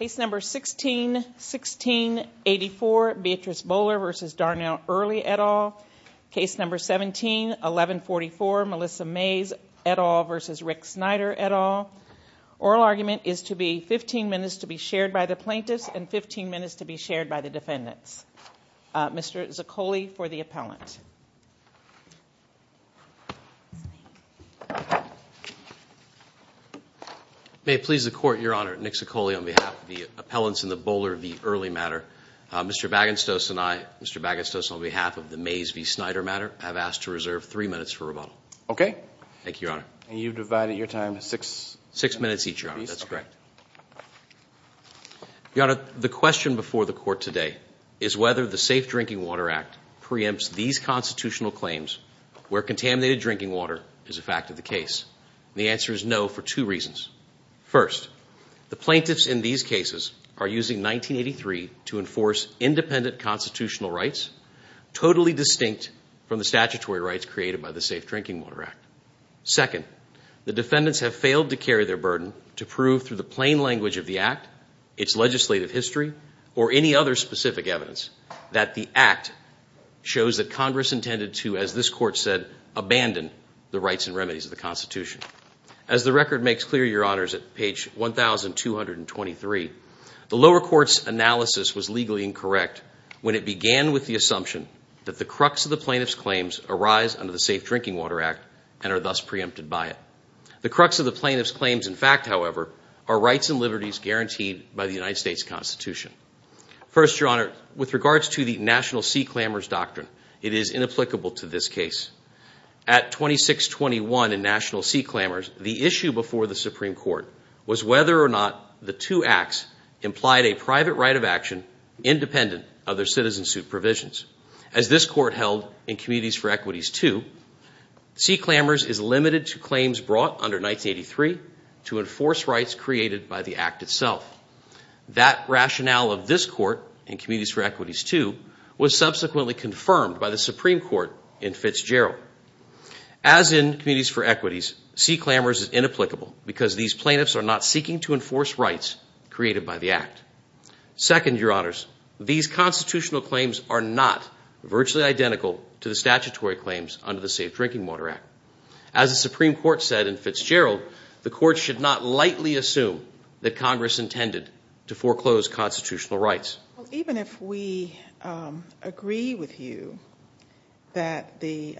171144 Melissa Mays et al. v. Rick Snyder et al. Oral argument is to be 15 minutes to be shared by the plaintiffs and 15 minutes to be shared by the defendants. Mr. Zaccoli for the appellant. May it please the Court, Your Honor, Nick Zaccoli on behalf of the appellants in the Boler v. Earley matter. Mr. Bagenstos and I, Mr. Bagenstos on behalf of the Mays v. Snyder matter, have asked to reserve three minutes for rebuttal. Thank you, Your Honor. And you've divided your time to six? Six minutes each, Your Honor. That's correct. Your Honor, the question before the Court today is whether the Safe Drinking Water Act preempts these constitutional claims where contaminated drinking water is a fact of the case. The answer is no for two reasons. First, the plaintiffs in these cases are using 1983 to enforce independent constitutional rights, totally distinct from the statutory rights created by the Safe Drinking Water Act. Second, the defendants have failed to carry their burden to prove through the plain language of the Act, its legislative history, or any other specific evidence that the Act shows that Congress intended to, as this Court said, abandon the rights and remedies of the Constitution. As the record makes clear, Your Honors, at page 1,223, the lower court's analysis was legally incorrect when it began with the assumption that the crux of the plaintiff's claims arise under the Safe Drinking Water Act and are thus preempted by it. The crux of the plaintiff's claims, in fact, however, are rights and liberties guaranteed by the United States Constitution. First, Your Honor, with regards to the National Sea Clambers doctrine, it is inapplicable to this case. At 2621 in National Sea Clambers, the issue before the Supreme Court was whether or not the two acts implied a private right of action independent of their citizen suit provisions. As this Court held in Communities for Equities 2, Sea Clambers is limited to claims brought under 1983 to enforce rights created by the Act itself. That rationale of this Court in Communities for Equities 2 was subsequently confirmed by the Supreme Court in Fitzgerald. As in Communities for Equities, Sea Clambers is inapplicable because these plaintiffs are not seeking to enforce rights created by the Act. Second, Your Honors, these constitutional claims are not virtually identical to the statutory claims under the Safe Drinking Water Act. As the Supreme Court said in Fitzgerald, the Court should not lightly assume that Congress intended to foreclose constitutional rights. Even if we agree with you that the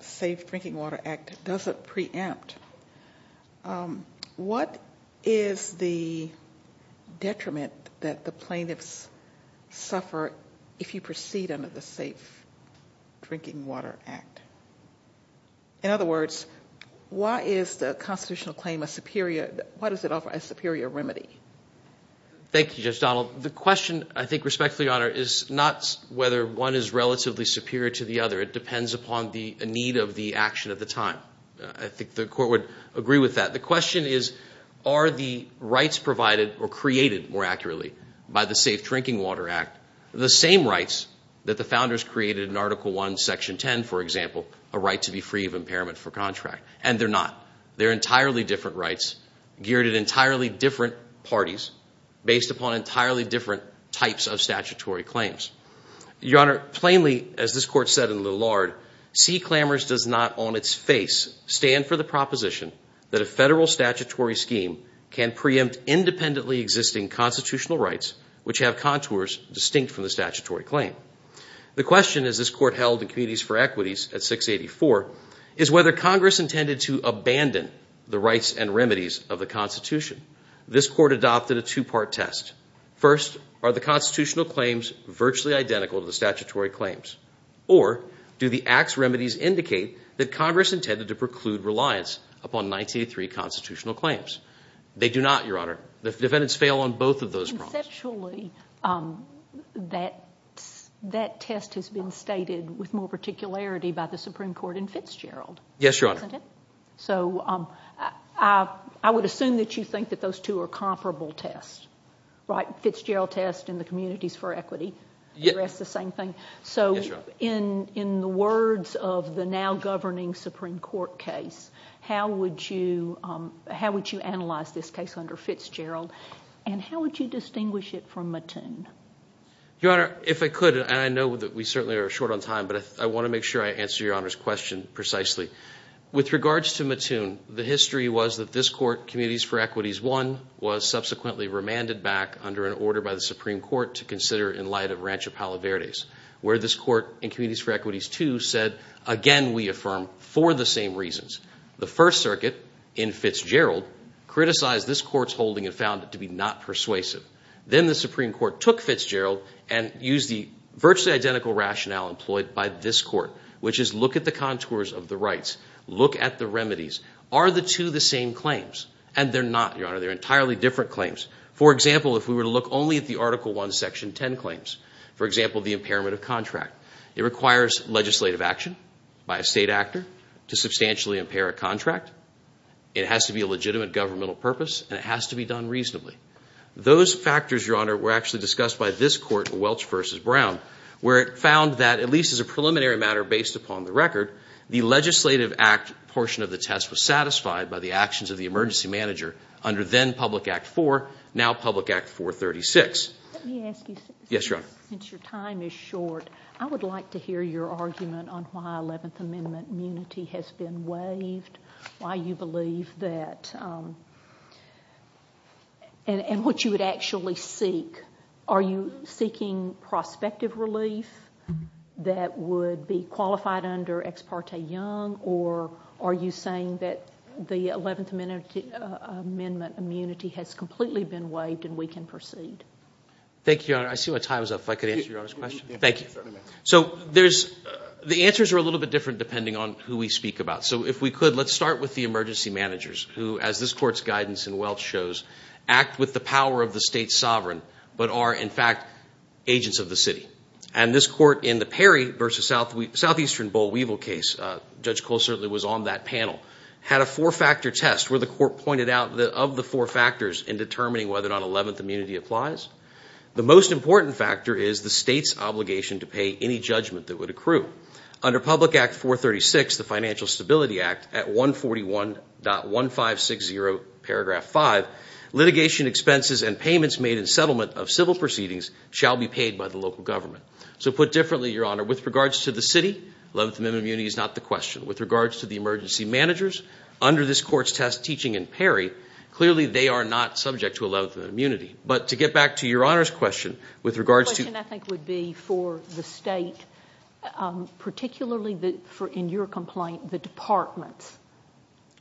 Safe Drinking Water Act doesn't preempt, what is the detriment that the plaintiffs suffer if you proceed under the Safe Drinking Water Act? In other words, why is the constitutional claim a superior remedy? Thank you, Judge Donald. The question, I think respectfully, Your Honor, is not whether one is relatively superior to the other. It depends upon the need of the action at the time. I think the Court would agree with that. The question is, are the rights provided or created, more accurately, by the Safe Drinking Water Act the same rights that the Founders created in Article I, Section 10, for example, a right to be free of impairment for contract? And they're not. They're entirely different rights geared at entirely different parties based upon entirely different types of statutory claims. Your Honor, plainly, as this Court said in Lillard, C. Clammers does not on its face stand for the proposition that a federal statutory scheme can preempt independently existing constitutional rights which have contours distinct from the statutory claim. The question, as this Court held in Committees for Equities at 684, is whether Congress intended to abandon the rights and remedies of the Constitution. This Court adopted a two-part test. First, are the constitutional claims virtually identical to the statutory claims? Or do the Act's remedies indicate that Congress intended to preclude reliance upon 1983 constitutional claims? They do not, Your Honor. The defendants fail on both of those problems. Conceptually, that test has been stated with more particularity by the Supreme Court in Fitzgerald. Yes, Your Honor. So I would assume that you think that those two are comparable tests, right? Fitzgerald test and the Communities for Equity address the same thing. So in the words of the now-governing Supreme Court case, how would you analyze this case under Fitzgerald, and how would you distinguish it from Mattoon? Your Honor, if I could, and I know that we certainly are short on time, but I want to make sure I answer Your Honor's question precisely. With regards to Mattoon, the history was that this Court, Communities for Equity I, was subsequently remanded back under an order by the Supreme Court to consider in light of Rancho Palo Verde's, where this Court in Communities for Equity II said, again, we affirm for the same reasons. The First Circuit in Fitzgerald criticized this Court's holding and found it to be not persuasive. Then the Supreme Court took Fitzgerald and used the virtually identical rationale employed by this Court, which is look at the contours of the rights, look at the remedies. Are the two the same claims? And they're not, Your Honor. They're entirely different claims. For example, if we were to look only at the Article I, Section 10 claims, for example, the impairment of contract, it requires legislative action by a state actor to substantially impair a contract. It has to be a legitimate governmental purpose, and it has to be done reasonably. Those factors, Your Honor, were actually discussed by this Court, Welch v. Brown, where it found that, at least as a preliminary matter based upon the record, the Legislative Act portion of the test was satisfied by the actions of the emergency manager under then Public Act IV, now Public Act 436. Let me ask you something. Yes, Your Honor. Since your time is short, I would like to hear your argument on why Eleventh Amendment immunity has been waived, why you believe that, and what you would actually seek. Are you seeking prospective relief that would be qualified under Ex parte Young, or are you saying that the Eleventh Amendment immunity has completely been waived and we can proceed? Thank you, Your Honor. I see my time is up. If I could answer Your Honor's question. Thank you. So the answers are a little bit different depending on who we speak about. So if we could, let's start with the emergency managers who, as this Court's guidance in Welch shows, act with the power of the state's sovereign but are, in fact, agents of the city. And this Court, in the Perry v. Southeastern Boll Weevil case, Judge Cole certainly was on that panel, had a four-factor test where the Court pointed out that of the four factors in determining whether or not Eleventh immunity applies, the most important factor is the state's obligation to pay any judgment that would accrue. Under Public Act 436, the Financial Stability Act, at 141.1560, paragraph 5, litigation expenses and payments made in settlement of civil proceedings shall be paid by the local government. So put differently, Your Honor, with regards to the city, Eleventh Amendment immunity is not the question. With regards to the emergency managers, under this Court's test teaching in Perry, clearly they are not subject to Eleventh Amendment immunity. But to get back to Your Honor's question, with regards to— particularly in your complaint, the departments.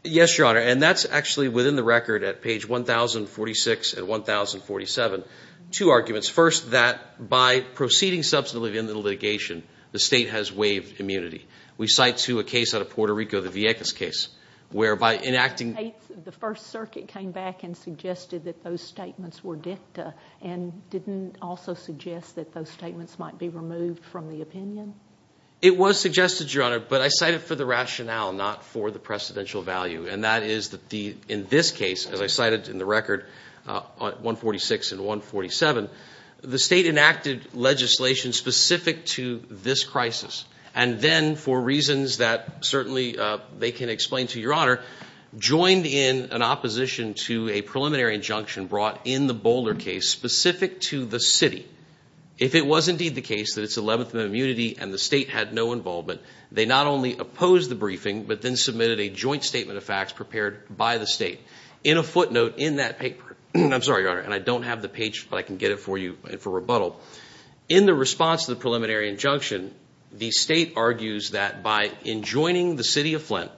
Yes, Your Honor. And that's actually within the record at page 1046 and 1047. Two arguments. First, that by proceeding substantively in the litigation, the state has waived immunity. We cite, too, a case out of Puerto Rico, the Vieques case, whereby enacting— The First Circuit came back and suggested that those statements were dicta and didn't also suggest that those statements might be removed from the opinion? It was suggested, Your Honor, but I cited for the rationale, not for the precedential value. And that is that in this case, as I cited in the record, 146 and 147, the state enacted legislation specific to this crisis. And then, for reasons that certainly they can explain to Your Honor, joined in an opposition to a preliminary injunction brought in the Boulder case specific to the city. If it was indeed the case that it's Eleventh Amendment immunity and the state had no involvement, they not only opposed the briefing, but then submitted a joint statement of facts prepared by the state. In a footnote in that paper—I'm sorry, Your Honor, and I don't have the page, but I can get it for you for rebuttal. In the response to the preliminary injunction, the state argues that by enjoining the city of Flint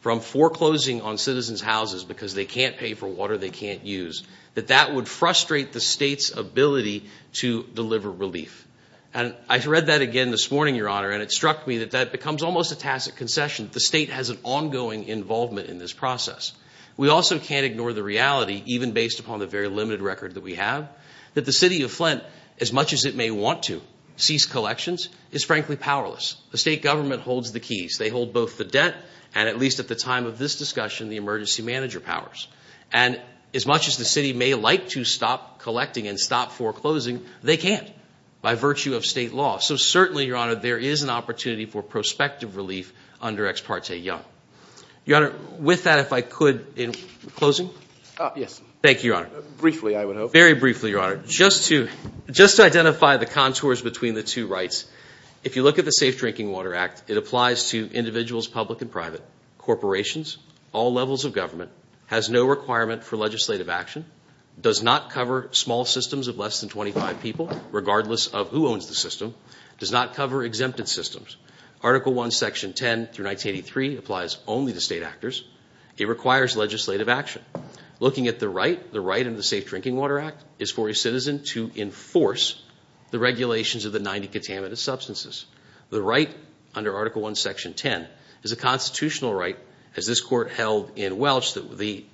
from foreclosing on citizens' houses because they can't pay for water they can't use, that that would frustrate the state's ability to deliver relief. And I read that again this morning, Your Honor, and it struck me that that becomes almost a tacit concession. The state has an ongoing involvement in this process. We also can't ignore the reality, even based upon the very limited record that we have, that the city of Flint, as much as it may want to, sees collections, is frankly powerless. The state government holds the keys. They hold both the debt and, at least at the time of this discussion, the emergency manager powers. And as much as the city may like to stop collecting and stop foreclosing, they can't by virtue of state law. So certainly, Your Honor, there is an opportunity for prospective relief under Ex parte Young. Your Honor, with that, if I could, in closing. Yes. Thank you, Your Honor. Briefly, I would hope. Very briefly, Your Honor. Just to identify the contours between the two rights, if you look at the Safe Drinking Water Act, it applies to individuals, public and private, corporations, all levels of government, has no requirement for legislative action, does not cover small systems of less than 25 people, regardless of who owns the system, does not cover exempted systems. Article 1, Section 10 through 1983 applies only to state actors. It requires legislative action. Looking at the right, the right under the Safe Drinking Water Act is for a citizen to enforce the regulations of the 90 contaminated substances. The right under Article 1, Section 10 is a constitutional right, as this Court held in Welch, that the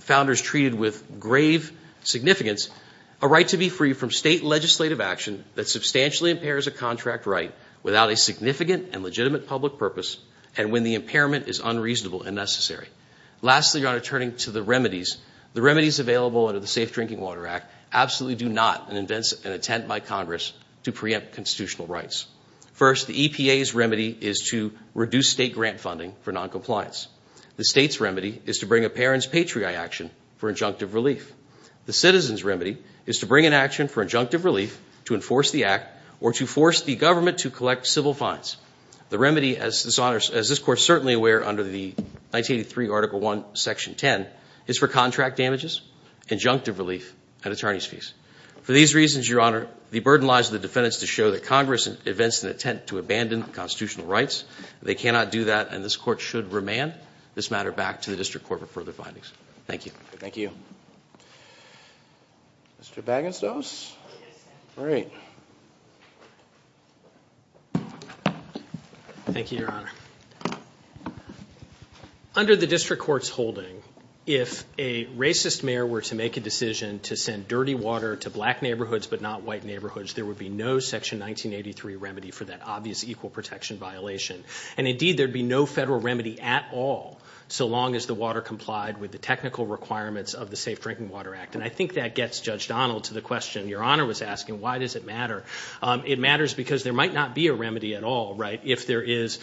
founders treated with grave significance a right to be free from state legislative action that substantially impairs a contract right without a significant and legitimate public purpose and when the impairment is unreasonable and necessary. Lastly, Your Honor, turning to the remedies, the remedies available under the Safe Drinking Water Act absolutely do not invent and attempt by Congress to preempt constitutional rights. First, the EPA's remedy is to reduce state grant funding for noncompliance. The state's remedy is to bring a parent's patriarch action for injunctive relief. The citizen's remedy is to bring an action for injunctive relief to enforce the act or to force the government to collect civil fines. The remedy, as this Court is certainly aware, under the 1983 Article 1, Section 10, is for contract damages, injunctive relief, and attorney's fees. For these reasons, Your Honor, the burden lies with the defendants to show that Congress invents an attempt to abandon constitutional rights. They cannot do that and this Court should remand this matter back to the District Court for further findings. Thank you. Thank you. Mr. Bagenstos? All right. Thank you, Your Honor. Under the District Court's holding, if a racist mayor were to make a decision to send dirty water to black neighborhoods but not white neighborhoods, there would be no Section 1983 remedy for that obvious equal protection violation. Indeed, there would be no federal remedy at all so long as the water complied with the technical requirements of the Safe Drinking Water Act. And I think that gets Judge Donald to the question Your Honor was asking, why does it matter? It matters because there might not be a remedy at all, right, if there is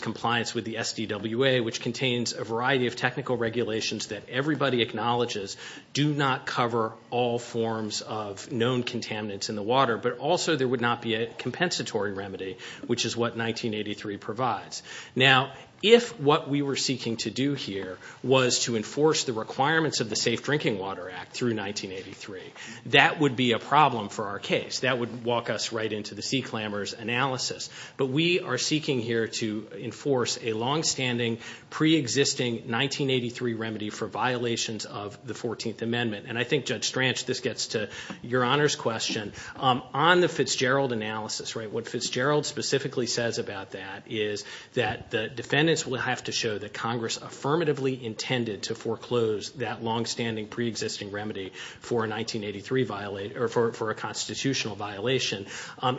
compliance with the SDWA, which contains a variety of technical regulations that everybody acknowledges do not cover all forms of known contaminants in the water, but also there would not be a compensatory remedy, which is what 1983 provides. Now, if what we were seeking to do here was to enforce the requirements of the Safe Drinking Water Act through 1983, that would be a problem for our case. That would walk us right into the Sea Clamor's analysis. But we are seeking here to enforce a longstanding, preexisting 1983 remedy for violations of the 14th Amendment. And I think, Judge Stranch, this gets to Your Honor's question. On the Fitzgerald analysis, right, what Fitzgerald specifically says about that is that the defendants will have to show that Congress affirmatively intended to foreclose that longstanding, preexisting remedy for a 1983 violation or for a constitutional violation.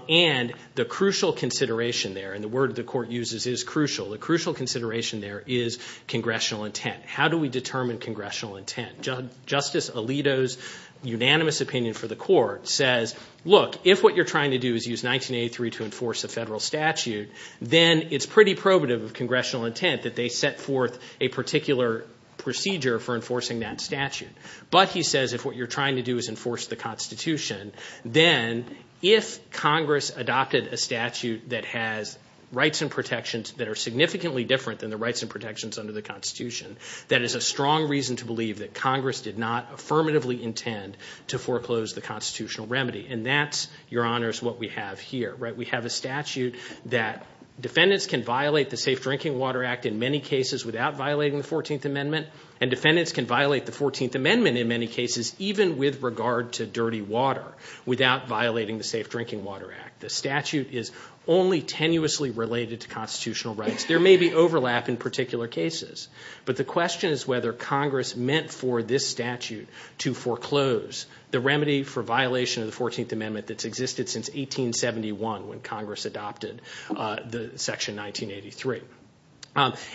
And the crucial consideration there, and the word the Court uses is crucial, the crucial consideration there is congressional intent. How do we determine congressional intent? Justice Alito's unanimous opinion for the Court says, look, if what you're trying to do is use 1983 to enforce a federal statute, then it's pretty probative of congressional intent that they set forth a particular procedure for enforcing that statute. But, he says, if what you're trying to do is enforce the Constitution, then if Congress adopted a statute that has rights and protections that are significantly different than the rights and protections under the Constitution, that is a strong reason to believe that Congress did not affirmatively intend to foreclose the constitutional remedy. And that's, Your Honors, what we have here. We have a statute that defendants can violate the Safe Drinking Water Act in many cases without violating the 14th Amendment, and defendants can violate the 14th Amendment in many cases even with regard to dirty water without violating the Safe Drinking Water Act. The statute is only tenuously related to constitutional rights. There may be overlap in particular cases, but the question is whether Congress meant for this statute to foreclose the remedy for violation of the 14th Amendment that's existed since 1871 when Congress adopted Section 1983.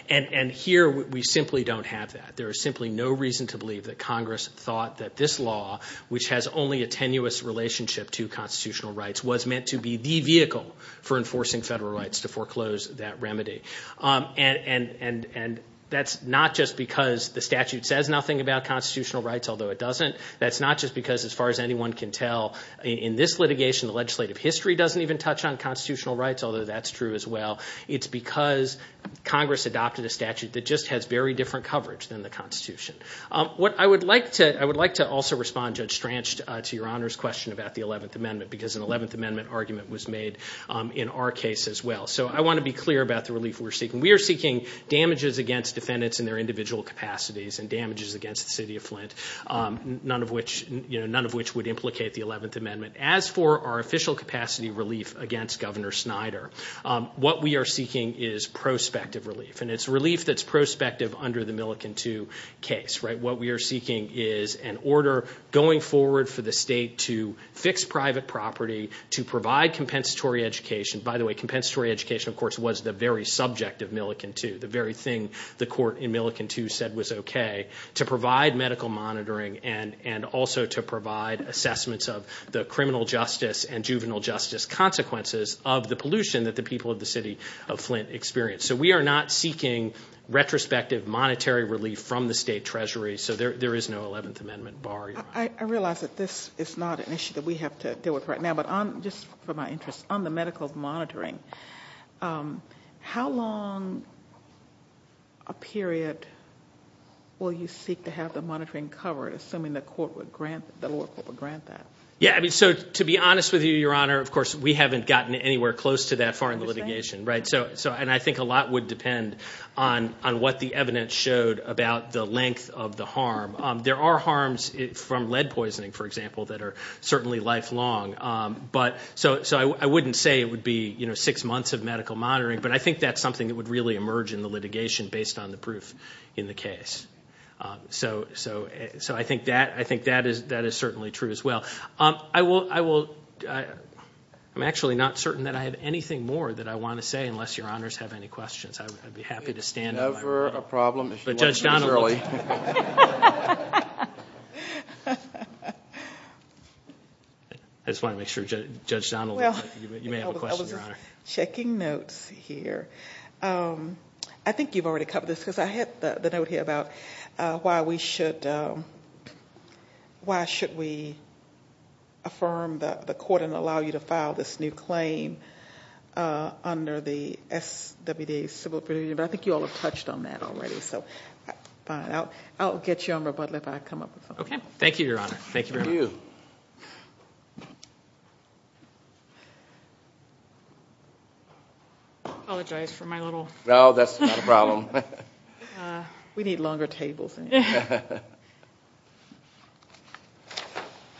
And here, we simply don't have that. There is simply no reason to believe that Congress thought that this law, which has only a tenuous relationship to constitutional rights, was meant to be the vehicle for enforcing federal rights to foreclose that remedy. And that's not just because the statute says nothing about constitutional rights, although it doesn't. That's not just because, as far as anyone can tell, in this litigation the legislative history doesn't even touch on constitutional rights, although that's true as well. It's because Congress adopted a statute that just has very different coverage than the Constitution. I would like to also respond, Judge Stranch, to Your Honor's question about the 11th Amendment, because an 11th Amendment argument was made in our case as well. So I want to be clear about the relief we're seeking. We are seeking damages against defendants in their individual capacities and damages against the city of Flint, none of which would implicate the 11th Amendment. As for our official capacity relief against Governor Snyder, what we are seeking is prospective relief, and it's relief that's prospective under the Millikin 2 case. What we are seeking is an order going forward for the state to fix private property, to provide compensatory education. By the way, compensatory education, of course, was the very subject of Millikin 2, the very thing the court in Millikin 2 said was okay, to provide medical monitoring and also to provide assessments of the criminal justice and juvenile justice consequences of the pollution that the people of the city of Flint experience. So we are not seeking retrospective monetary relief from the state treasury, so there is no 11th Amendment bar, Your Honor. I realize that this is not an issue that we have to deal with right now, but just for my interest, on the medical monitoring, how long a period will you seek to have the monitoring covered, assuming the court would grant that? To be honest with you, Your Honor, of course, we haven't gotten anywhere close to that far in the litigation, and I think a lot would depend on what the evidence showed about the length of the harm. There are harms from lead poisoning, for example, that are certainly lifelong. So I wouldn't say it would be six months of medical monitoring, but I think that's something that would really emerge in the litigation based on the proof in the case. So I think that is certainly true as well. I'm actually not certain that I have anything more that I want to say, unless Your Honors have any questions. I'd be happy to stand. It's never a problem if you want to, Shirley. I just wanted to make sure, Judge Donnelly, you may have a question, Your Honor. I was just checking notes here. I think you've already covered this, because I had the note here about why we should, why should we affirm the court and allow you to file this new claim under the SWD Civil Procedure, but I think you all have touched on that already. I'll get you on rebuttal if I come up with something. Okay. Thank you, Your Honor. Thank you very much. Apologize for my little... No, that's not a problem. We need longer tables. Mr.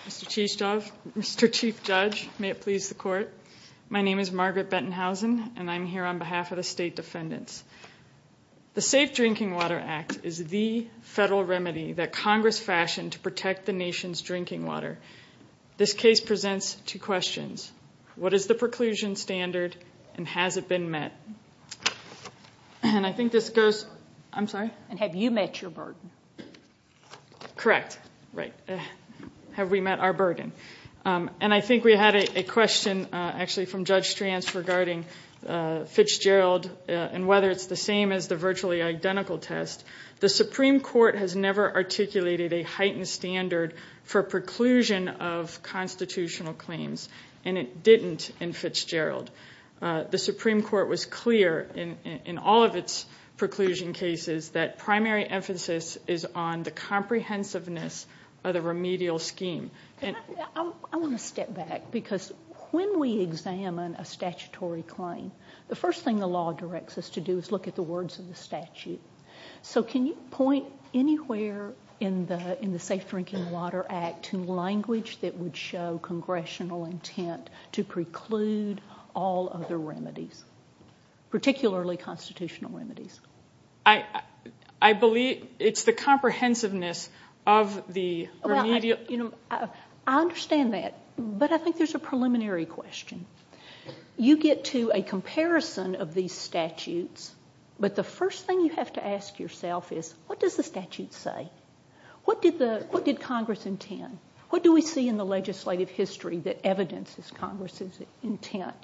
Cheesedove, Mr. Chief Judge, may it please the court. My name is Margaret Bentonhausen, and I'm here on behalf of the State Defendants. The Safe Drinking Water Act is the federal remedy that Congress fashioned to protect the nation's drinking water. This case presents two questions. What is the preclusion standard, and has it been met? I think this goes... I'm sorry? Have you met your burden? Correct. Have we met our burden? And I think we had a question actually from Judge Stranz regarding Fitzgerald and whether it's the same as the virtually identical test. The Supreme Court has never articulated a heightened standard for preclusion of constitutional claims, and it didn't in Fitzgerald. The Supreme Court was clear in all of its preclusion cases that primary emphasis is on the comprehensiveness of the remedial scheme. I want to step back, because when we examine a statutory claim, the first thing the law directs us to do is look at the words of the statute. So can you point anywhere in the Safe Drinking Water Act to language that would show congressional intent to preclude all other remedies, particularly constitutional remedies? I believe it's the comprehensiveness of the remedial... I understand that, but I think there's a preliminary question. You get to a comparison of these statutes, but the first thing you have to ask yourself is, what does the statute say? What did Congress intend? What do we see in the legislative history that evidences Congress's intent?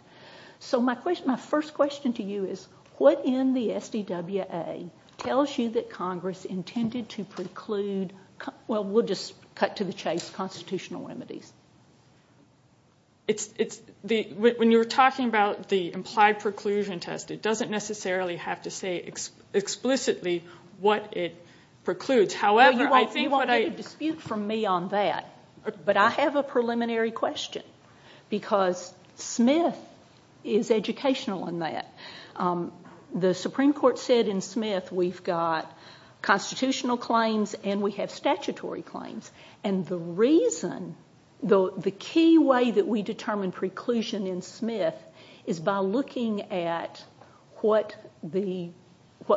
So my first question to you is, what in the SDWA tells you that Congress intended to preclude... Well, we'll just cut to the chase, constitutional remedies. When you were talking about the implied preclusion test, it doesn't necessarily have to say explicitly what it precludes. However, I think what I... You won't get a dispute from me on that, but I have a preliminary question, because Smith is educational in that. The Supreme Court said in Smith we've got constitutional claims and we have statutory claims. And the reason... The key way that we determine preclusion in Smith is by looking at what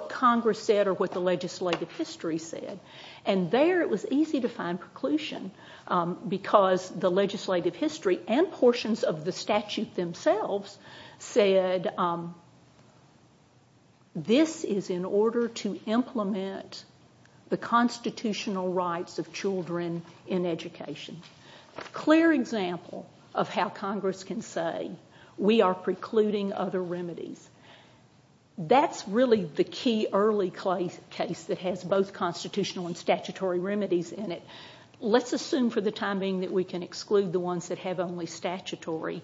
Congress said or what the legislative history said. And there it was easy to find preclusion, because the legislative history and portions of the statute themselves said... This is in order to implement the constitutional rights of children in education. A clear example of how Congress can say, we are precluding other remedies. That's really the key early case that has both constitutional and statutory remedies in it. Let's assume for the time being that we can exclude the ones that have only statutory.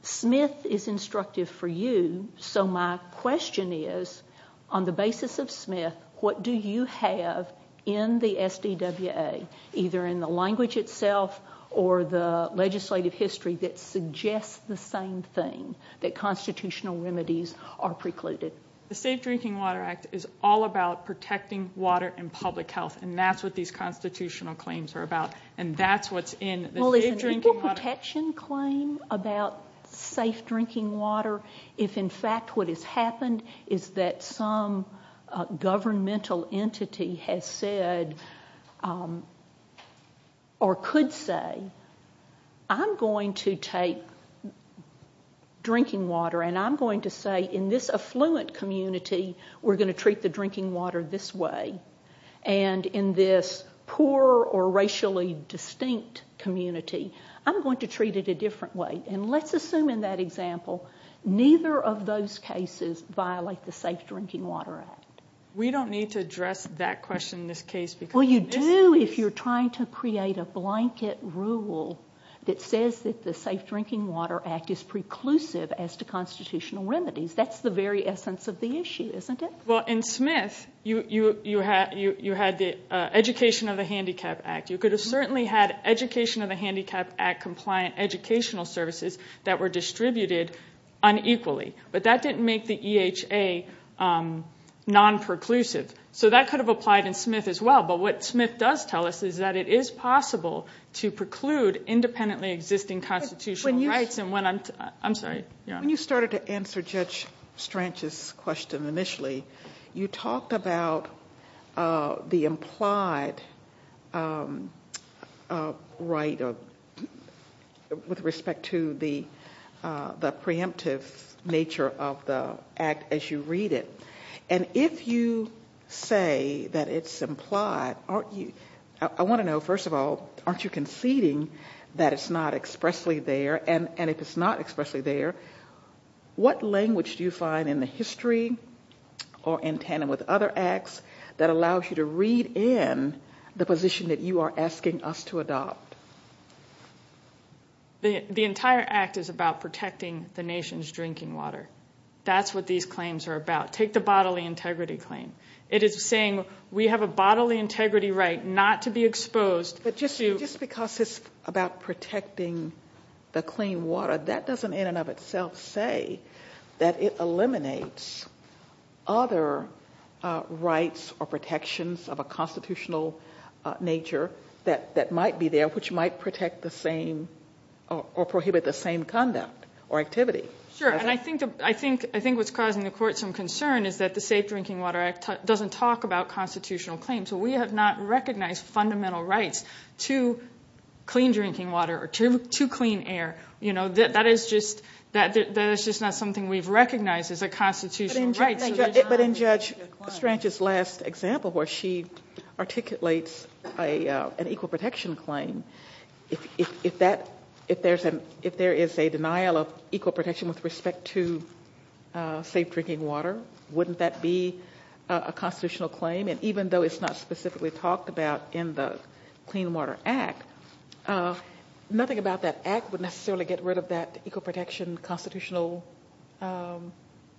Smith is instructive for you, so my question is, on the basis of Smith, what do you have in the SDWA, either in the language itself or the legislative history, that suggests the same thing, that constitutional remedies are precluded? The Safe Drinking Water Act is all about protecting water and public health, and that's what these constitutional claims are about, and that's what's in the Safe Drinking Water... Well, is an equal protection claim about safe drinking water if, in fact, what has happened is that some governmental entity has said... ..or could say, I'm going to take drinking water and I'm going to say, in this affluent community, we're going to treat the drinking water this way, and in this poor or racially distinct community, I'm going to treat it a different way. And let's assume, in that example, neither of those cases violate the Safe Drinking Water Act. We don't need to address that question in this case because... Well, you do if you're trying to create a blanket rule that says that the Safe Drinking Water Act is preclusive as to constitutional remedies. That's the very essence of the issue, isn't it? Well, in Smith, you had the Education of the Handicapped Act. You could have certainly had Education of the Handicapped Act for non-compliant educational services that were distributed unequally, but that didn't make the EHA non-preclusive. So that could have applied in Smith as well, but what Smith does tell us is that it is possible to preclude independently existing constitutional rights... When you... I'm sorry. When you started to answer Judge Stranch's question initially, you talked about the implied right of... with respect to the preemptive nature of the act as you read it. And if you say that it's implied, aren't you... I want to know, first of all, aren't you conceding that it's not expressly there? And if it's not expressly there, what language do you find in the history or in tandem with other acts that allows you to read in the position that you are asking us to adopt? The entire act is about protecting the nation's drinking water. That's what these claims are about. Take the bodily integrity claim. It is saying we have a bodily integrity right not to be exposed to... But just because it's about protecting the clean water, that doesn't in and of itself say that it eliminates other rights or protections of a constitutional nature that might be there, which might protect the same or prohibit the same conduct or activity. Sure, and I think what's causing the Court some concern is that the Safe Drinking Water Act doesn't talk about constitutional claims. We have not recognized fundamental rights to clean drinking water or to clean air. That is just not something we've recognized as a constitutional right. But in Judge Strange's last example, where she articulates an equal protection claim, if there is a denial of equal protection with respect to safe drinking water, wouldn't that be a constitutional claim? And even though it's not specifically talked about in the Clean Water Act, nothing about that act would necessarily get rid of that equal protection constitutional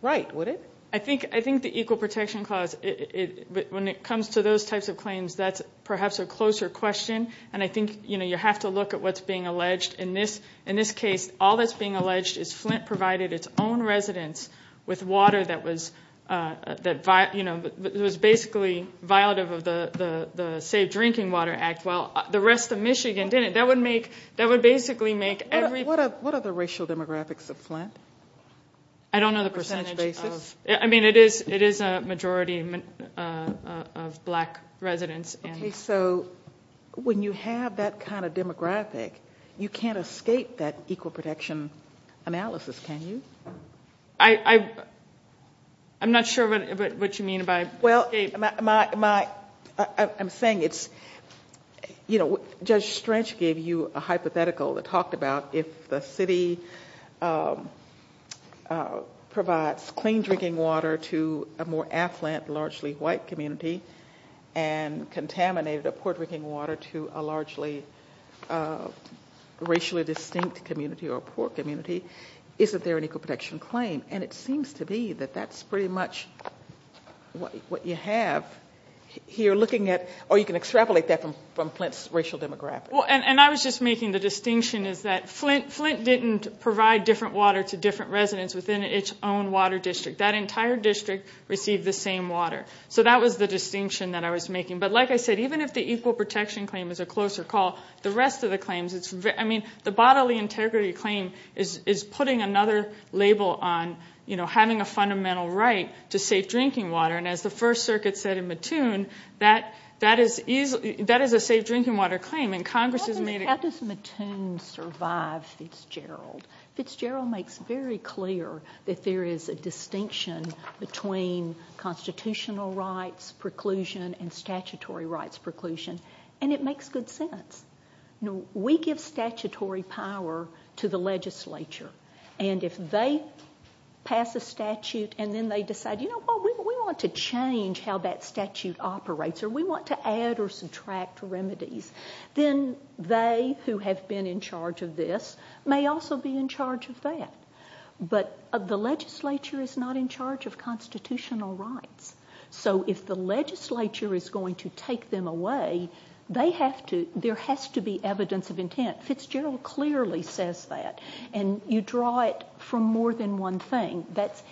right, would it? I think the equal protection clause, when it comes to those types of claims, that's perhaps a closer question. And I think you have to look at what's being alleged. In this case, all that's being alleged is Flint provided its own residence with water that was basically violative of the Safe Drinking Water Act while the rest of Michigan didn't. That would basically make every... What are the racial demographics of Flint? I don't know the percentage. I mean, it is a majority of black residents. So when you have that kind of demographic, you can't escape that equal protection analysis, can you? I'm not sure what you mean by escape. Well, I'm saying it's, you know, Judge Strange gave you a hypothetical that talked about if the city provides clean drinking water to a more affluent, largely white community and contaminated a poor drinking water to a largely racially distinct community or a poor community, isn't there an equal protection claim? And it seems to be that that's pretty much what you have here looking at, or you can extrapolate that from Flint's racial demographics. And I was just making the distinction is that Flint didn't provide different water to different residents within its own water district. That entire district received the same water. So that was the distinction that I was making. But like I said, even if the equal protection claim is a closer call, the rest of the claims, I mean, the bodily integrity claim is putting another label on, you know, having a fundamental right to safe drinking water. And as the First Circuit said in Mattoon, that is a safe drinking water claim. And Congress has made it. How does Mattoon survive Fitzgerald? Fitzgerald makes very clear that there is a distinction between constitutional rights preclusion and statutory rights preclusion. And it makes good sense. We give statutory power to the legislature, and if they pass a statute and then they decide, you know, we want to change how that statute operates or we want to add or subtract remedies, then they who have been in charge of this may also be in charge of that. But the legislature is not in charge of constitutional rights. So if the legislature is going to take them away, there has to be evidence of intent. Fitzgerald clearly says that. And you draw it from more than one thing.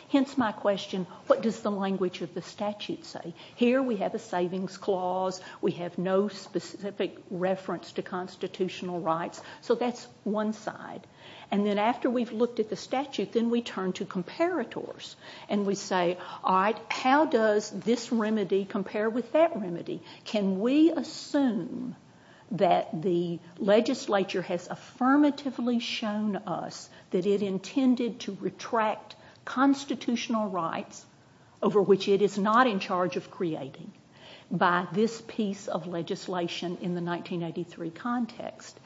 Hence my question, what does the language of the statute say? Here we have a savings clause. We have no specific reference to constitutional rights. So that's one side. And then after we've looked at the statute, then we turn to comparators. And we say, all right, how does this remedy compare with that remedy? Can we assume that the legislature has affirmatively shown us that it intended to retract constitutional rights over which it is not in charge of creating by this piece of legislation in the 1983 context?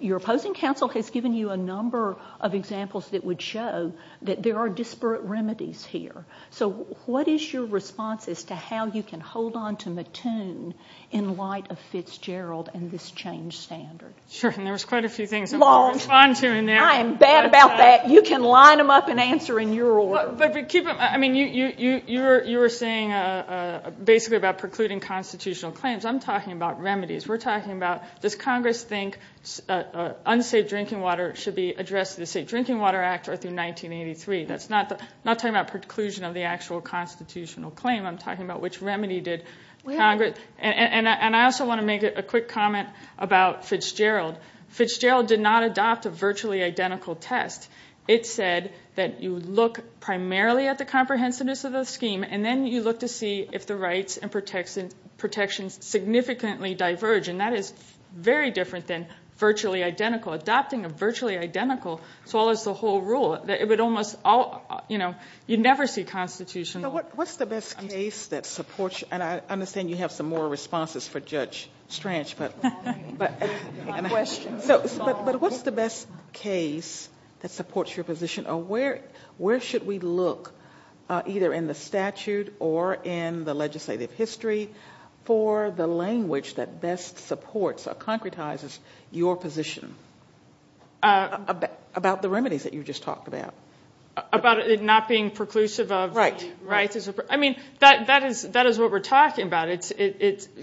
Your opposing counsel has given you a number of examples that would show that there are disparate remedies here. So what is your response as to how you can hold on to Mattoon in light of Fitzgerald and this change standard? Sure, and there was quite a few things I wanted to respond to in there. I am bad about that. You can line them up and answer in your order. I mean, you were saying basically about precluding constitutional claims. I'm talking about remedies. We're talking about does Congress think unsafe drinking water should be addressed through the Safe Drinking Water Act or through 1983. I'm not talking about preclusion of the actual constitutional claim. I'm talking about which remedy did Congress. And I also want to make a quick comment about Fitzgerald. Fitzgerald did not adopt a virtually identical test. It said that you look primarily at the comprehensiveness of the scheme, and then you look to see if the rights and protections significantly diverge. And that is very different than virtually identical. Adopting a virtually identical, as well as the whole rule, it would almost all, you know, you'd never see constitutional. What's the best case that supports you? And I understand you have some more responses for Judge Strange. But what's the best case that supports your position? Or where should we look, either in the statute or in the legislative history, for the language that best supports or concretizes your position about the remedies that you just talked about? About it not being preclusive of rights? I mean, that is what we're talking about.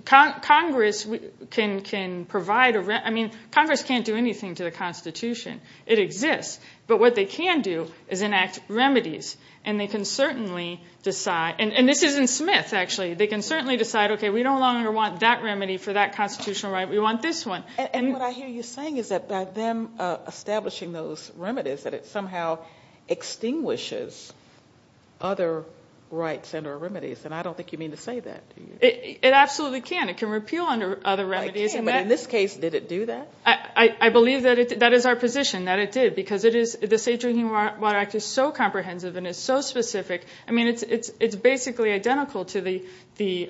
Congress can provide a remedy. I mean, Congress can't do anything to the Constitution. It exists. But what they can do is enact remedies. And they can certainly decide. And this isn't Smith, actually. They can certainly decide, okay, we don't longer want that remedy for that constitutional right. We want this one. And what I hear you saying is that by them establishing those remedies, that it somehow extinguishes other rights and or remedies. And I don't think you mean to say that. It absolutely can. It can repeal other remedies. But in this case, did it do that? I believe that is our position, that it did, because the State Drinking Water Act is so comprehensive and is so specific. I mean, it's basically identical to the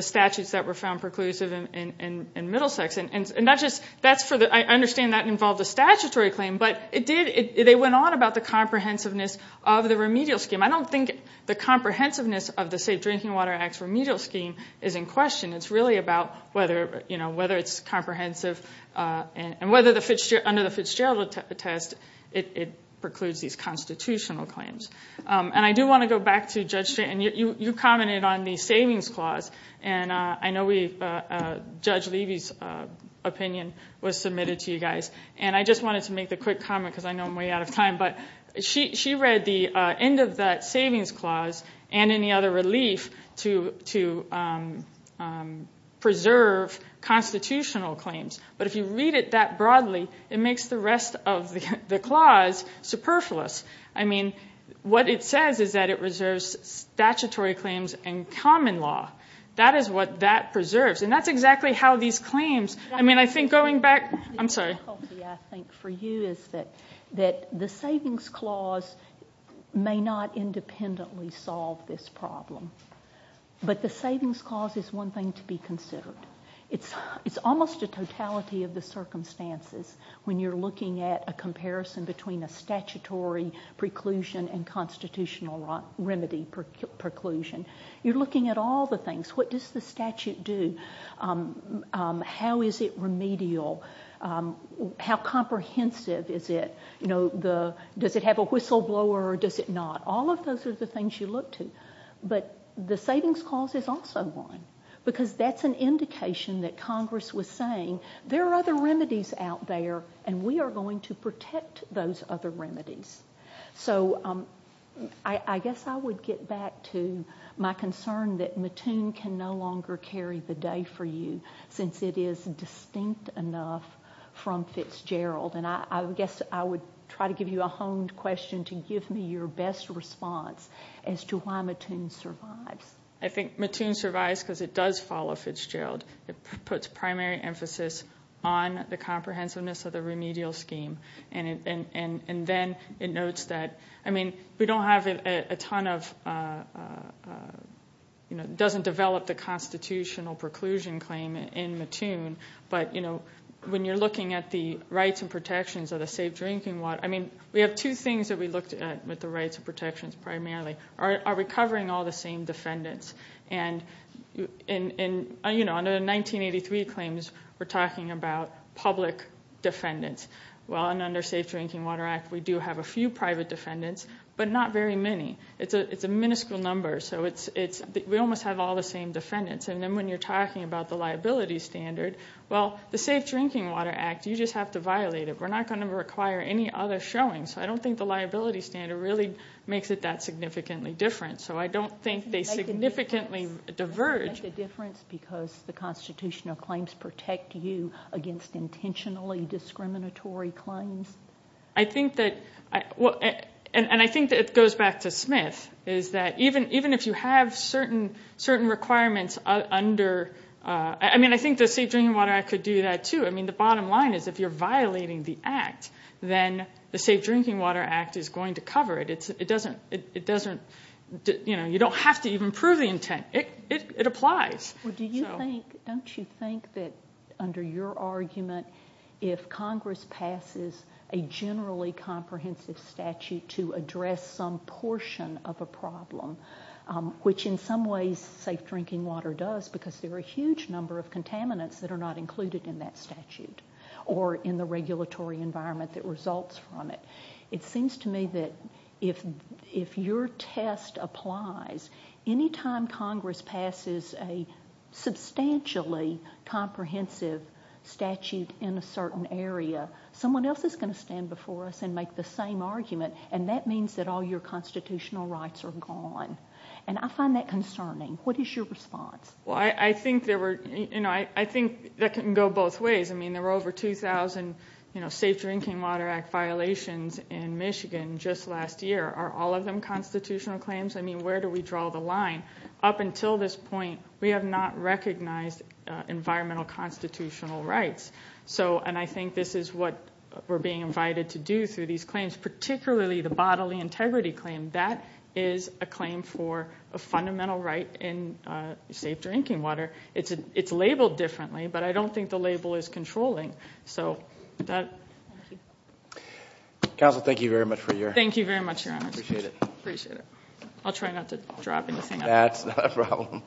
statutes that were found preclusive in Middlesex. And I understand that involved a statutory claim. But they went on about the comprehensiveness of the remedial scheme. I don't think the comprehensiveness of the State Drinking Water Act's remedial scheme is in question. It's really about whether it's comprehensive and whether under the Fitzgerald test it precludes these constitutional claims. And I do want to go back to Judge Shannon. You commented on the savings clause. And I know Judge Levy's opinion was submitted to you guys. And I just wanted to make the quick comment because I know I'm way out of time. But she read the end of that savings clause and any other relief to preserve constitutional claims. But if you read it that broadly, it makes the rest of the clause superfluous. I mean, what it says is that it reserves statutory claims and common law. That is what that preserves. And that's exactly how these claims, I mean, I think going back, I'm sorry. The difficulty, I think, for you is that the savings clause may not independently solve this problem. But the savings clause is one thing to be considered. It's almost a totality of the circumstances when you're looking at a comparison between a statutory preclusion and constitutional remedy preclusion. You're looking at all the things. What does the statute do? How is it remedial? How comprehensive is it? Does it have a whistleblower or does it not? All of those are the things you look to. But the savings clause is also one because that's an indication that Congress was saying there are other remedies out there, and we are going to protect those other remedies. So I guess I would get back to my concern that Mattoon can no longer carry the day for you since it is distinct enough from Fitzgerald. And I guess I would try to give you a honed question to give me your best response as to why Mattoon survives. I think Mattoon survives because it does follow Fitzgerald. It puts primary emphasis on the comprehensiveness of the remedial scheme. And then it notes that, I mean, we don't have a ton of, it doesn't develop the constitutional preclusion claim in Mattoon, but when you're looking at the rights and protections of the safe drinking water, I mean, we have two things that we looked at with the rights and protections primarily. Are we covering all the same defendants? And, you know, under the 1983 claims, we're talking about public defendants. Well, and under the Safe Drinking Water Act, we do have a few private defendants, but not very many. It's a minuscule number. So we almost have all the same defendants. And then when you're talking about the liability standard, well, the Safe Drinking Water Act, you just have to violate it. We're not going to require any other showing. So I don't think the liability standard really makes it that significantly different. So I don't think they significantly diverge. Does it make a difference because the constitutional claims protect you against intentionally discriminatory claims? I think that, and I think that it goes back to Smith, is that even if you have certain requirements under, I mean, I think the Safe Drinking Water Act could do that, too. I mean, the bottom line is if you're violating the act, then the Safe Drinking Water Act is going to cover it. It doesn't, you know, you don't have to even prove the intent. It applies. Well, don't you think that under your argument, if Congress passes a generally comprehensive statute to address some portion of a problem, which in some ways Safe Drinking Water does because there are a huge number of contaminants that are not included in that statute or in the regulatory environment that results from it, it seems to me that if your test applies, any time Congress passes a substantially comprehensive statute in a certain area, someone else is going to stand before us and make the same argument, and that means that all your constitutional rights are gone. And I find that concerning. What is your response? Well, I think there were, you know, I think that can go both ways. I mean, there were over 2,000, you know, Safe Drinking Water Act violations in Michigan just last year. Are all of them constitutional claims? I mean, where do we draw the line? Up until this point, we have not recognized environmental constitutional rights, and I think this is what we're being invited to do through these claims, particularly the bodily integrity claim. That is a claim for a fundamental right in safe drinking water. It's labeled differently, but I don't think the label is controlling. So that. Counsel, thank you very much for your. Thank you very much, Your Honor. Appreciate it. Appreciate it. I'll try not to drop anything. That's not a problem.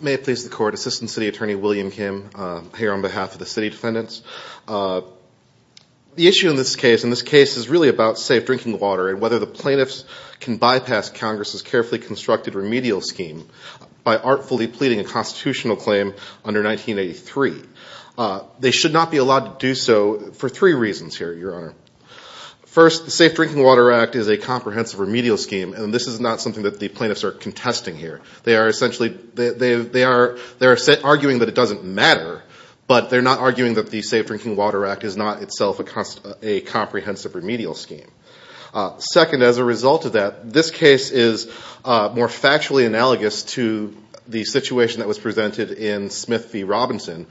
May it please the Court. Assistant City Attorney William Kim here on behalf of the city defendants. The issue in this case, and this case is really about safe drinking water and whether the plaintiffs can bypass Congress's carefully constructed remedial scheme by artfully pleading a constitutional claim under 1983. They should not be allowed to do so for three reasons here, Your Honor. First, the Safe Drinking Water Act is a comprehensive remedial scheme, and this is not something that the plaintiffs are contesting here. They are essentially, they are arguing that it doesn't matter, but they are not arguing that the Safe Drinking Water Act is not itself a comprehensive remedial scheme. Second, as a result of that, this case is more factually analogous to the situation that was presented in Smith v. Robinson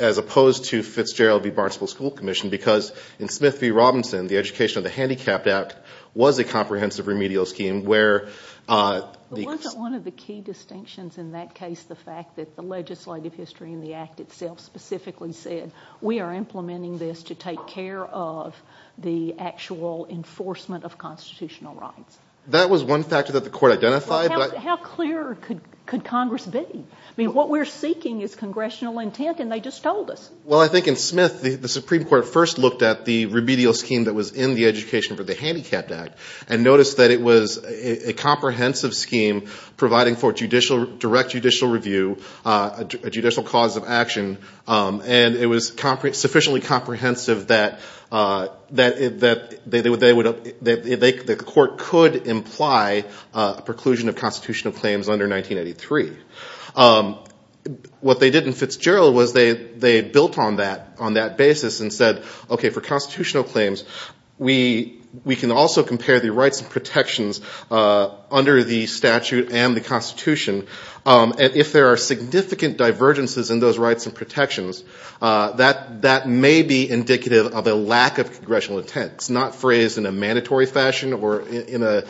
as opposed to Fitzgerald v. Barnspool School Commission because in Smith v. Robinson, the education of the Handicapped Act was a comprehensive remedial scheme where. Wasn't one of the key distinctions in that case the fact that the legislative history in the act itself specifically said we are implementing this to take care of the actual enforcement of constitutional rights. That was one factor that the court identified. How clear could Congress be? I mean, what we're seeking is congressional intent, and they just told us. Well, I think in Smith, the Supreme Court first looked at the remedial scheme that was in the education of the Handicapped Act and noticed that it was a comprehensive scheme providing for direct judicial review, a judicial cause of action, and it was sufficiently comprehensive that the court could imply a preclusion of constitutional claims under 1983. What they did in Fitzgerald was they built on that basis and said, okay, for constitutional claims, we can also compare the rights and protections under the statute and the Constitution. And if there are significant divergences in those rights and protections, that may be indicative of a lack of congressional intent. It's not phrased in a mandatory fashion or in a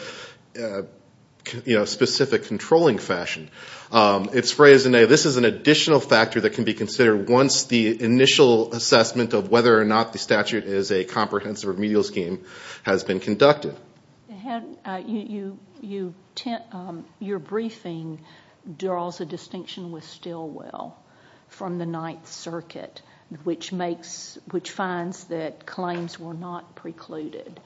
specific controlling fashion. It's phrased in a this is an additional factor that can be considered once the initial assessment of whether or not the statute is a comprehensive remedial scheme has been conducted. You're briefing draws a distinction with Stilwell from the Ninth Circuit, which finds that claims were not precluded.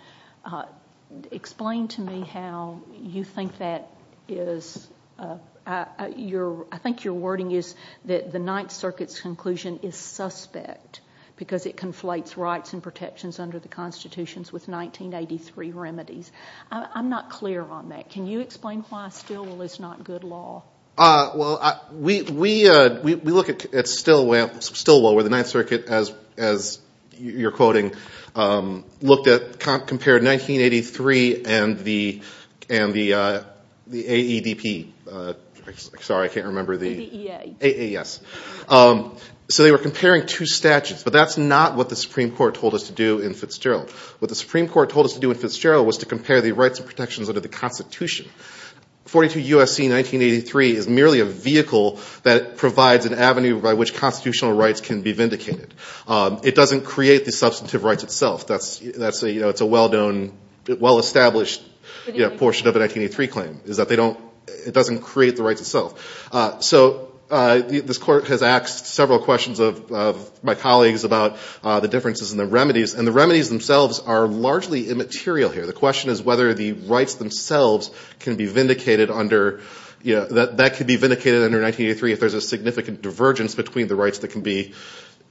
Explain to me how you think that is – I think your wording is that the Ninth Circuit's conclusion is suspect because it conflates rights and protections under the Constitution with 1983 remedies. I'm not clear on that. Can you explain why Stilwell is not good law? Well, we look at Stilwell where the Ninth Circuit, as you're quoting, compared 1983 and the AEDP. Sorry, I can't remember the – AEDP. Yes. So they were comparing two statutes. But that's not what the Supreme Court told us to do in Fitzgerald. What the Supreme Court told us to do in Fitzgerald was to compare the rights and protections under the Constitution. 42 U.S.C. 1983 is merely a vehicle that provides an avenue by which constitutional rights can be vindicated. It doesn't create the substantive rights itself. That's a well-known, well-established portion of the 1983 claim is that they don't – it doesn't create the rights itself. So this court has asked several questions of my colleagues about the differences in the remedies. And the remedies themselves are largely immaterial here. The question is whether the rights themselves can be vindicated under – that could be vindicated under 1983 if there's a significant divergence between the rights that can be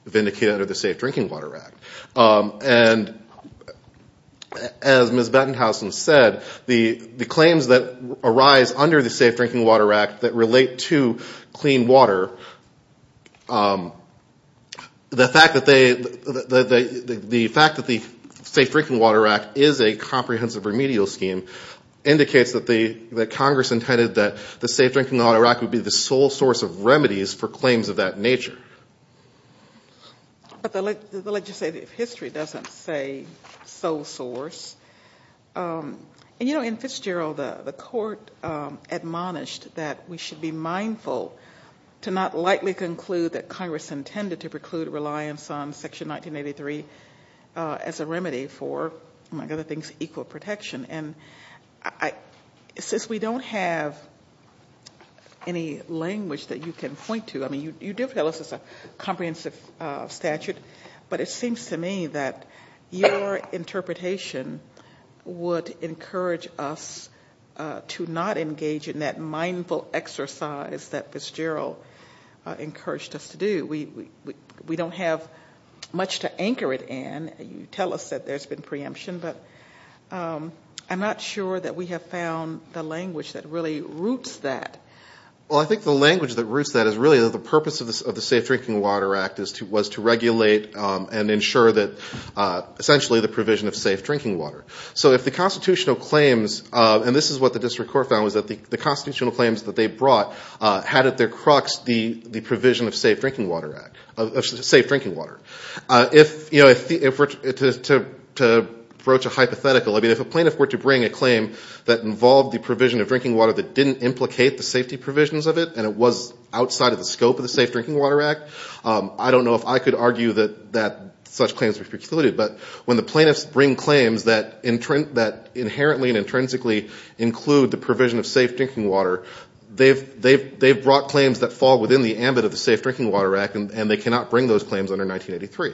vindicated under the Safe Drinking Water Act. And as Ms. Bettenhausen said, the claims that arise under the 1982 Clean Water, the fact that they – the fact that the Safe Drinking Water Act is a comprehensive remedial scheme indicates that Congress intended that the Safe Drinking Water Act would be the sole source of remedies for claims of that nature. But the legislative history doesn't say sole source. And, you know, in Fitzgerald, the court admonished that we should be mindful to not lightly conclude that Congress intended to preclude reliance on Section 1983 as a remedy for, among other things, equal protection. And since we don't have any language that you can point to – I mean, you do tell us it's a comprehensive statute, but it seems to me that your interpretation would encourage us to not engage in that mindful exercise that Fitzgerald encouraged us to do. We don't have much to anchor it in. You tell us that there's been preemption, but I'm not sure that we have found the language that really roots that. Well, I think the language that roots that is really the purpose of the essentially the provision of safe drinking water. So if the constitutional claims – and this is what the district court found – was that the constitutional claims that they brought had at their crux the provision of Safe Drinking Water Act – of Safe Drinking Water. To broach a hypothetical, I mean, if a plaintiff were to bring a claim that involved the provision of drinking water that didn't implicate the safety provisions of it and it was outside of the scope of the Safe Drinking Water Act, I don't know if I could argue that such claims were precluded. But when the plaintiffs bring claims that inherently and intrinsically include the provision of safe drinking water, they've brought claims that fall within the ambit of the Safe Drinking Water Act, and they cannot bring those claims under 1983.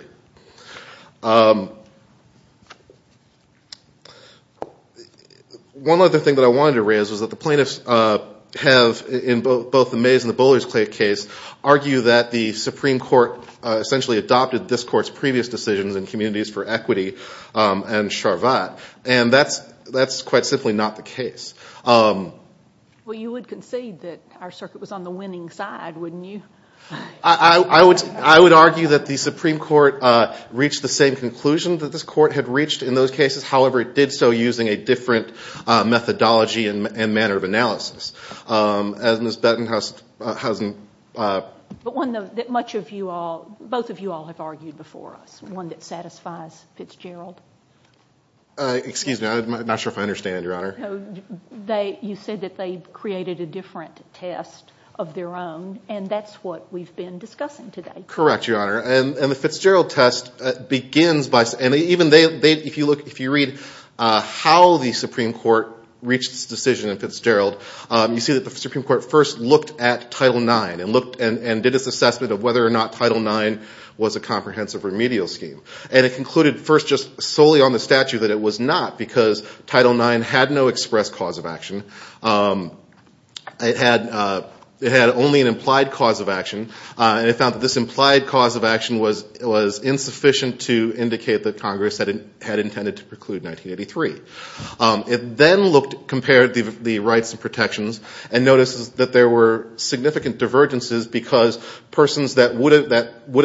One other thing that I wanted to raise was that the plaintiffs have, in both the Mays and the Bowlers Clay case, argue that the Supreme Court essentially adopted this court's previous decisions in Communities for Equity and Charvat. And that's quite simply not the case. Well, you would concede that our circuit was on the winning side, wouldn't you? I would argue that the Supreme Court reached the same conclusion that this court had reached in those cases, however, it did so using a different methodology and manner of analysis. As Ms. Bettenhausen. But one that much of you all, both of you all have argued before us, one that satisfies Fitzgerald. Excuse me, I'm not sure if I understand, Your Honor. You said that they created a different test of their own, and that's what we've been discussing today. Correct, Your Honor. And the Fitzgerald test begins by, and even they, if you look, if you read how the Supreme Court reached its decision in Fitzgerald, you see that the Supreme Court first looked at Title IX and did its assessment of whether or not Title IX was a comprehensive remedial scheme. And it concluded first just solely on the statute that it was not, because Title IX had no express cause of action. It had only an implied cause of action. And it found that this implied cause of action was insufficient to indicate that Congress had intended to preclude 1983. It then compared the rights and protections and noticed that there were significant divergences because persons that would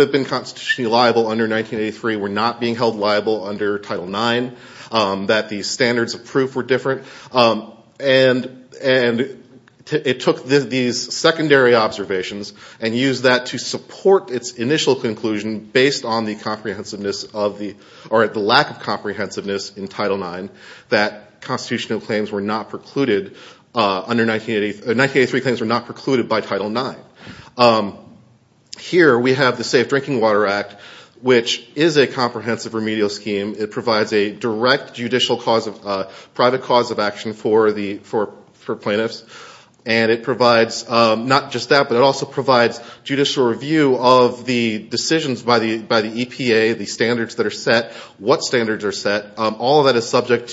have been constitutionally liable under 1983 were not being held liable under Title IX, that the standards of proof were different. And it took these secondary observations and used them to support its initial conclusion based on the lack of comprehensiveness in Title IX that 1983 claims were not precluded by Title IX. Here we have the Safe Drinking Water Act, which is a comprehensive remedial scheme. It provides a direct judicial cause, a private cause of action for plaintiffs. And it provides not just that, but it also provides judicial review of the decisions by the EPA, the standards that are set, what standards are set. All of that is subject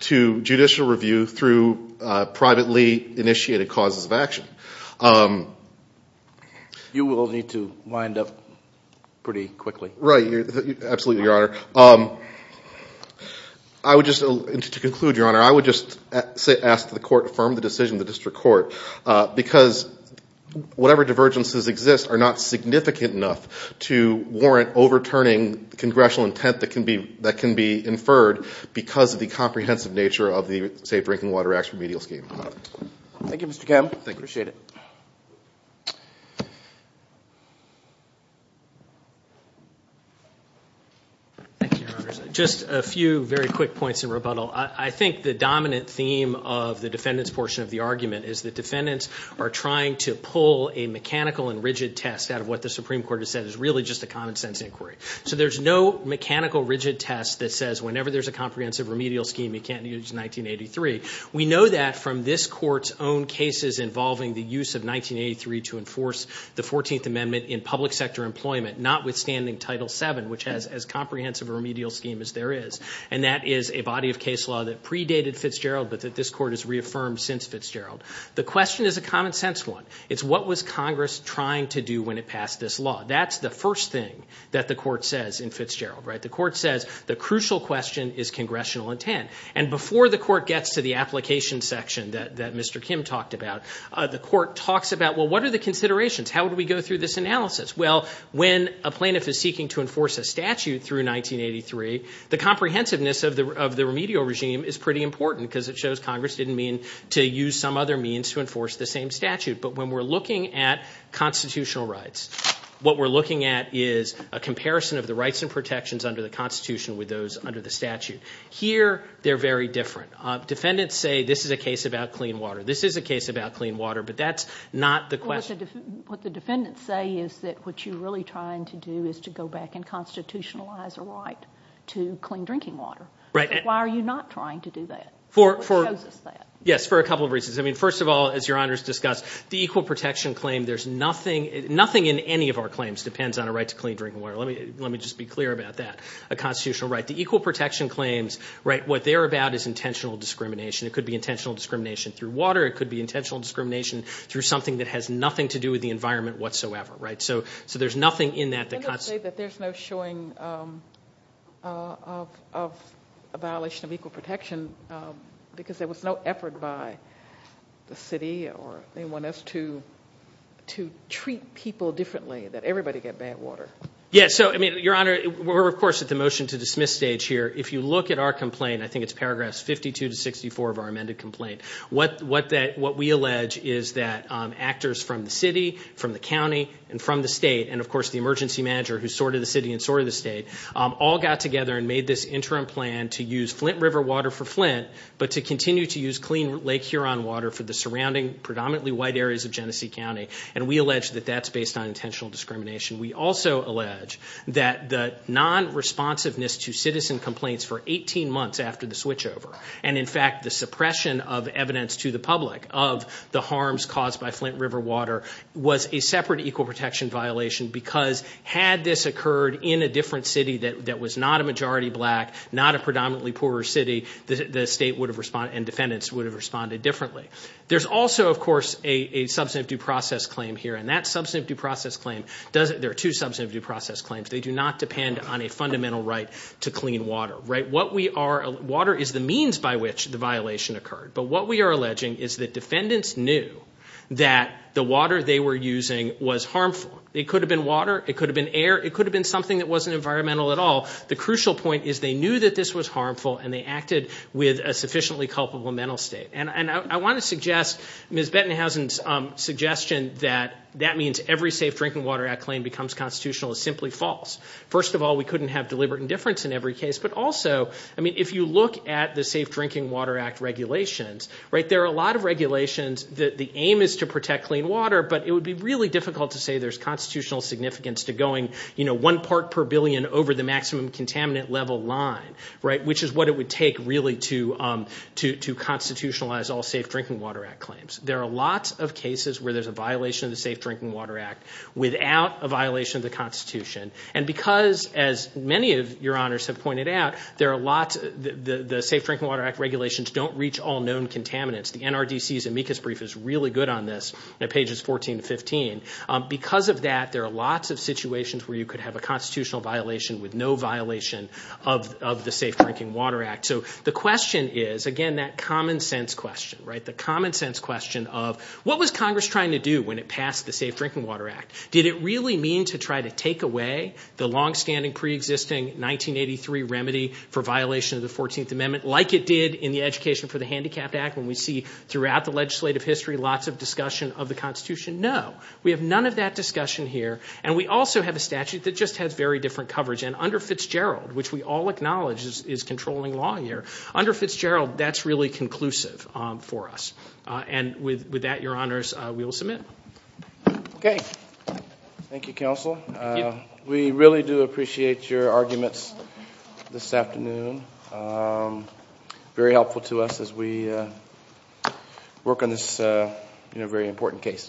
to judicial review through privately initiated causes of action. You will need to wind up pretty quickly. Right. Absolutely, Your Honor. To conclude, Your Honor, I would just ask that the Court affirm the decision of the District Court because whatever divergences exist are not significant enough to warrant overturning congressional intent that can be inferred because of the comprehensive nature of the Safe Drinking Water Act remedial scheme. Thank you, Mr. Kemp. I appreciate it. Thank you, Your Honor. Just a few very quick points in rebuttal. I think the dominant theme of the defendant's portion of the argument is the defendants are trying to pull a mechanical and rigid test out of what the Supreme Court has said is really just a common sense inquiry. So there's no mechanical rigid test that says whenever there's a comprehensive remedial scheme, you can't use 1983. We know that from this Court's own cases involving the use of 1983 to enforce the 14th Amendment in public sector employment, notwithstanding Title VII, which has as comprehensive a remedial scheme as there is. And that is a body of case law that predated Fitzgerald but that this Court has reaffirmed since Fitzgerald. The question is a common sense one. It's what was Congress trying to do when it passed this law. That's the first thing that the Court says in Fitzgerald, right? The Court says the crucial question is congressional intent. And before the Court gets to the application section that Mr. Kim talked about, the Court talks about, well, what are the considerations? How do we go through this analysis? Well, when a plaintiff is seeking to enforce a statute through 1983, the comprehensiveness of the remedial regime is pretty important because it shows Congress didn't mean to use some other means to enforce the same statute. But when we're looking at constitutional rights, what we're looking at is a comparison of the rights and protections under the Constitution with those under the statute. Here they're very different. Defendants say this is a case about clean water. This is a case about clean water, but that's not the question. What the defendants say is that what you're really trying to do is to go back and constitutionalize a right to clean drinking water. Why are you not trying to do that? What shows us that? Yes, for a couple of reasons. First of all, as Your Honors discussed, the equal protection claim, there's nothing in any of our claims depends on a right to clean drinking water. Let me just be clear about that, a constitutional right. The equal protection claims, what they're about is intentional discrimination. It could be intentional discrimination through water. It could be intentional discrimination through something that has nothing to do with the environment whatsoever. So there's nothing in that that cuts. I'm going to say that there's no showing of a violation of equal protection because there was no effort by the city or anyone else to treat people differently, that everybody get bad water. Yes. Your Honor, we're, of course, at the motion to dismiss stage here. If you look at our complaint, I think it's paragraphs 52 to 64 of our complaint that what we allege is that actors from the city, from the county, and from the state, and, of course, the emergency manager who sorted the city and sorted the state, all got together and made this interim plan to use Flint River water for Flint, but to continue to use clean Lake Huron water for the surrounding predominantly white areas of Genesee County. And we allege that that's based on intentional discrimination. We also allege that the non-responsiveness to citizen complaints for 18 months after the switchover, and, in fact, the suppression of water to the public of the harms caused by Flint River water was a separate equal protection violation because had this occurred in a different city that was not a majority black, not a predominantly poorer city, the state would have responded and defendants would have responded differently. There's also, of course, a substantive due process claim here, and that substantive due process claim, there are two substantive due process claims. They do not depend on a fundamental right to clean water. Water is the means by which the violation occurred. But what we are alleging is that defendants knew that the water they were using was harmful. It could have been water. It could have been air. It could have been something that wasn't environmental at all. The crucial point is they knew that this was harmful, and they acted with a sufficiently culpable mental state. And I want to suggest Ms. Bettenhausen's suggestion that that means every Safe Drinking Water Act claim becomes constitutional is simply false. First of all, we couldn't have deliberate indifference in every case, but also, I mean, if you look at the Safe Drinking Water Act regulations, right, there are a lot of regulations that the aim is to protect clean water, but it would be really difficult to say there's constitutional significance to going, you know, one part per billion over the maximum contaminant level line, right, which is what it would take really to constitutionalize all Safe Drinking Water Act claims. There are lots of cases where there's a violation of the Safe Drinking Water Act without a violation of the Constitution. And because, as many of your honors have pointed out, there are lots of the Safe Drinking Water Act regulations don't reach all known contaminants. The NRDC's amicus brief is really good on this, pages 14 to 15. Because of that, there are lots of situations where you could have a constitutional violation with no violation of the Safe Drinking Water Act. So the question is, again, that common sense question, right, the common sense question of what was Congress trying to do when it passed the Safe Drinking Water Act? Did it really mean to try to take away the longstanding, preexisting 1983 remedy for violation of the 14th Amendment like it did in the Education for the Handicapped Act when we see throughout the legislative history lots of discussion of the Constitution? No. We have none of that discussion here. And we also have a statute that just has very different coverage. And under Fitzgerald, which we all acknowledge is controlling law here, under Fitzgerald, that's really conclusive for us. And with that, your honors, we will submit. Okay. Thank you, counsel. Thank you. We really do appreciate your arguments this afternoon. Very helpful to us as we work on this very important case.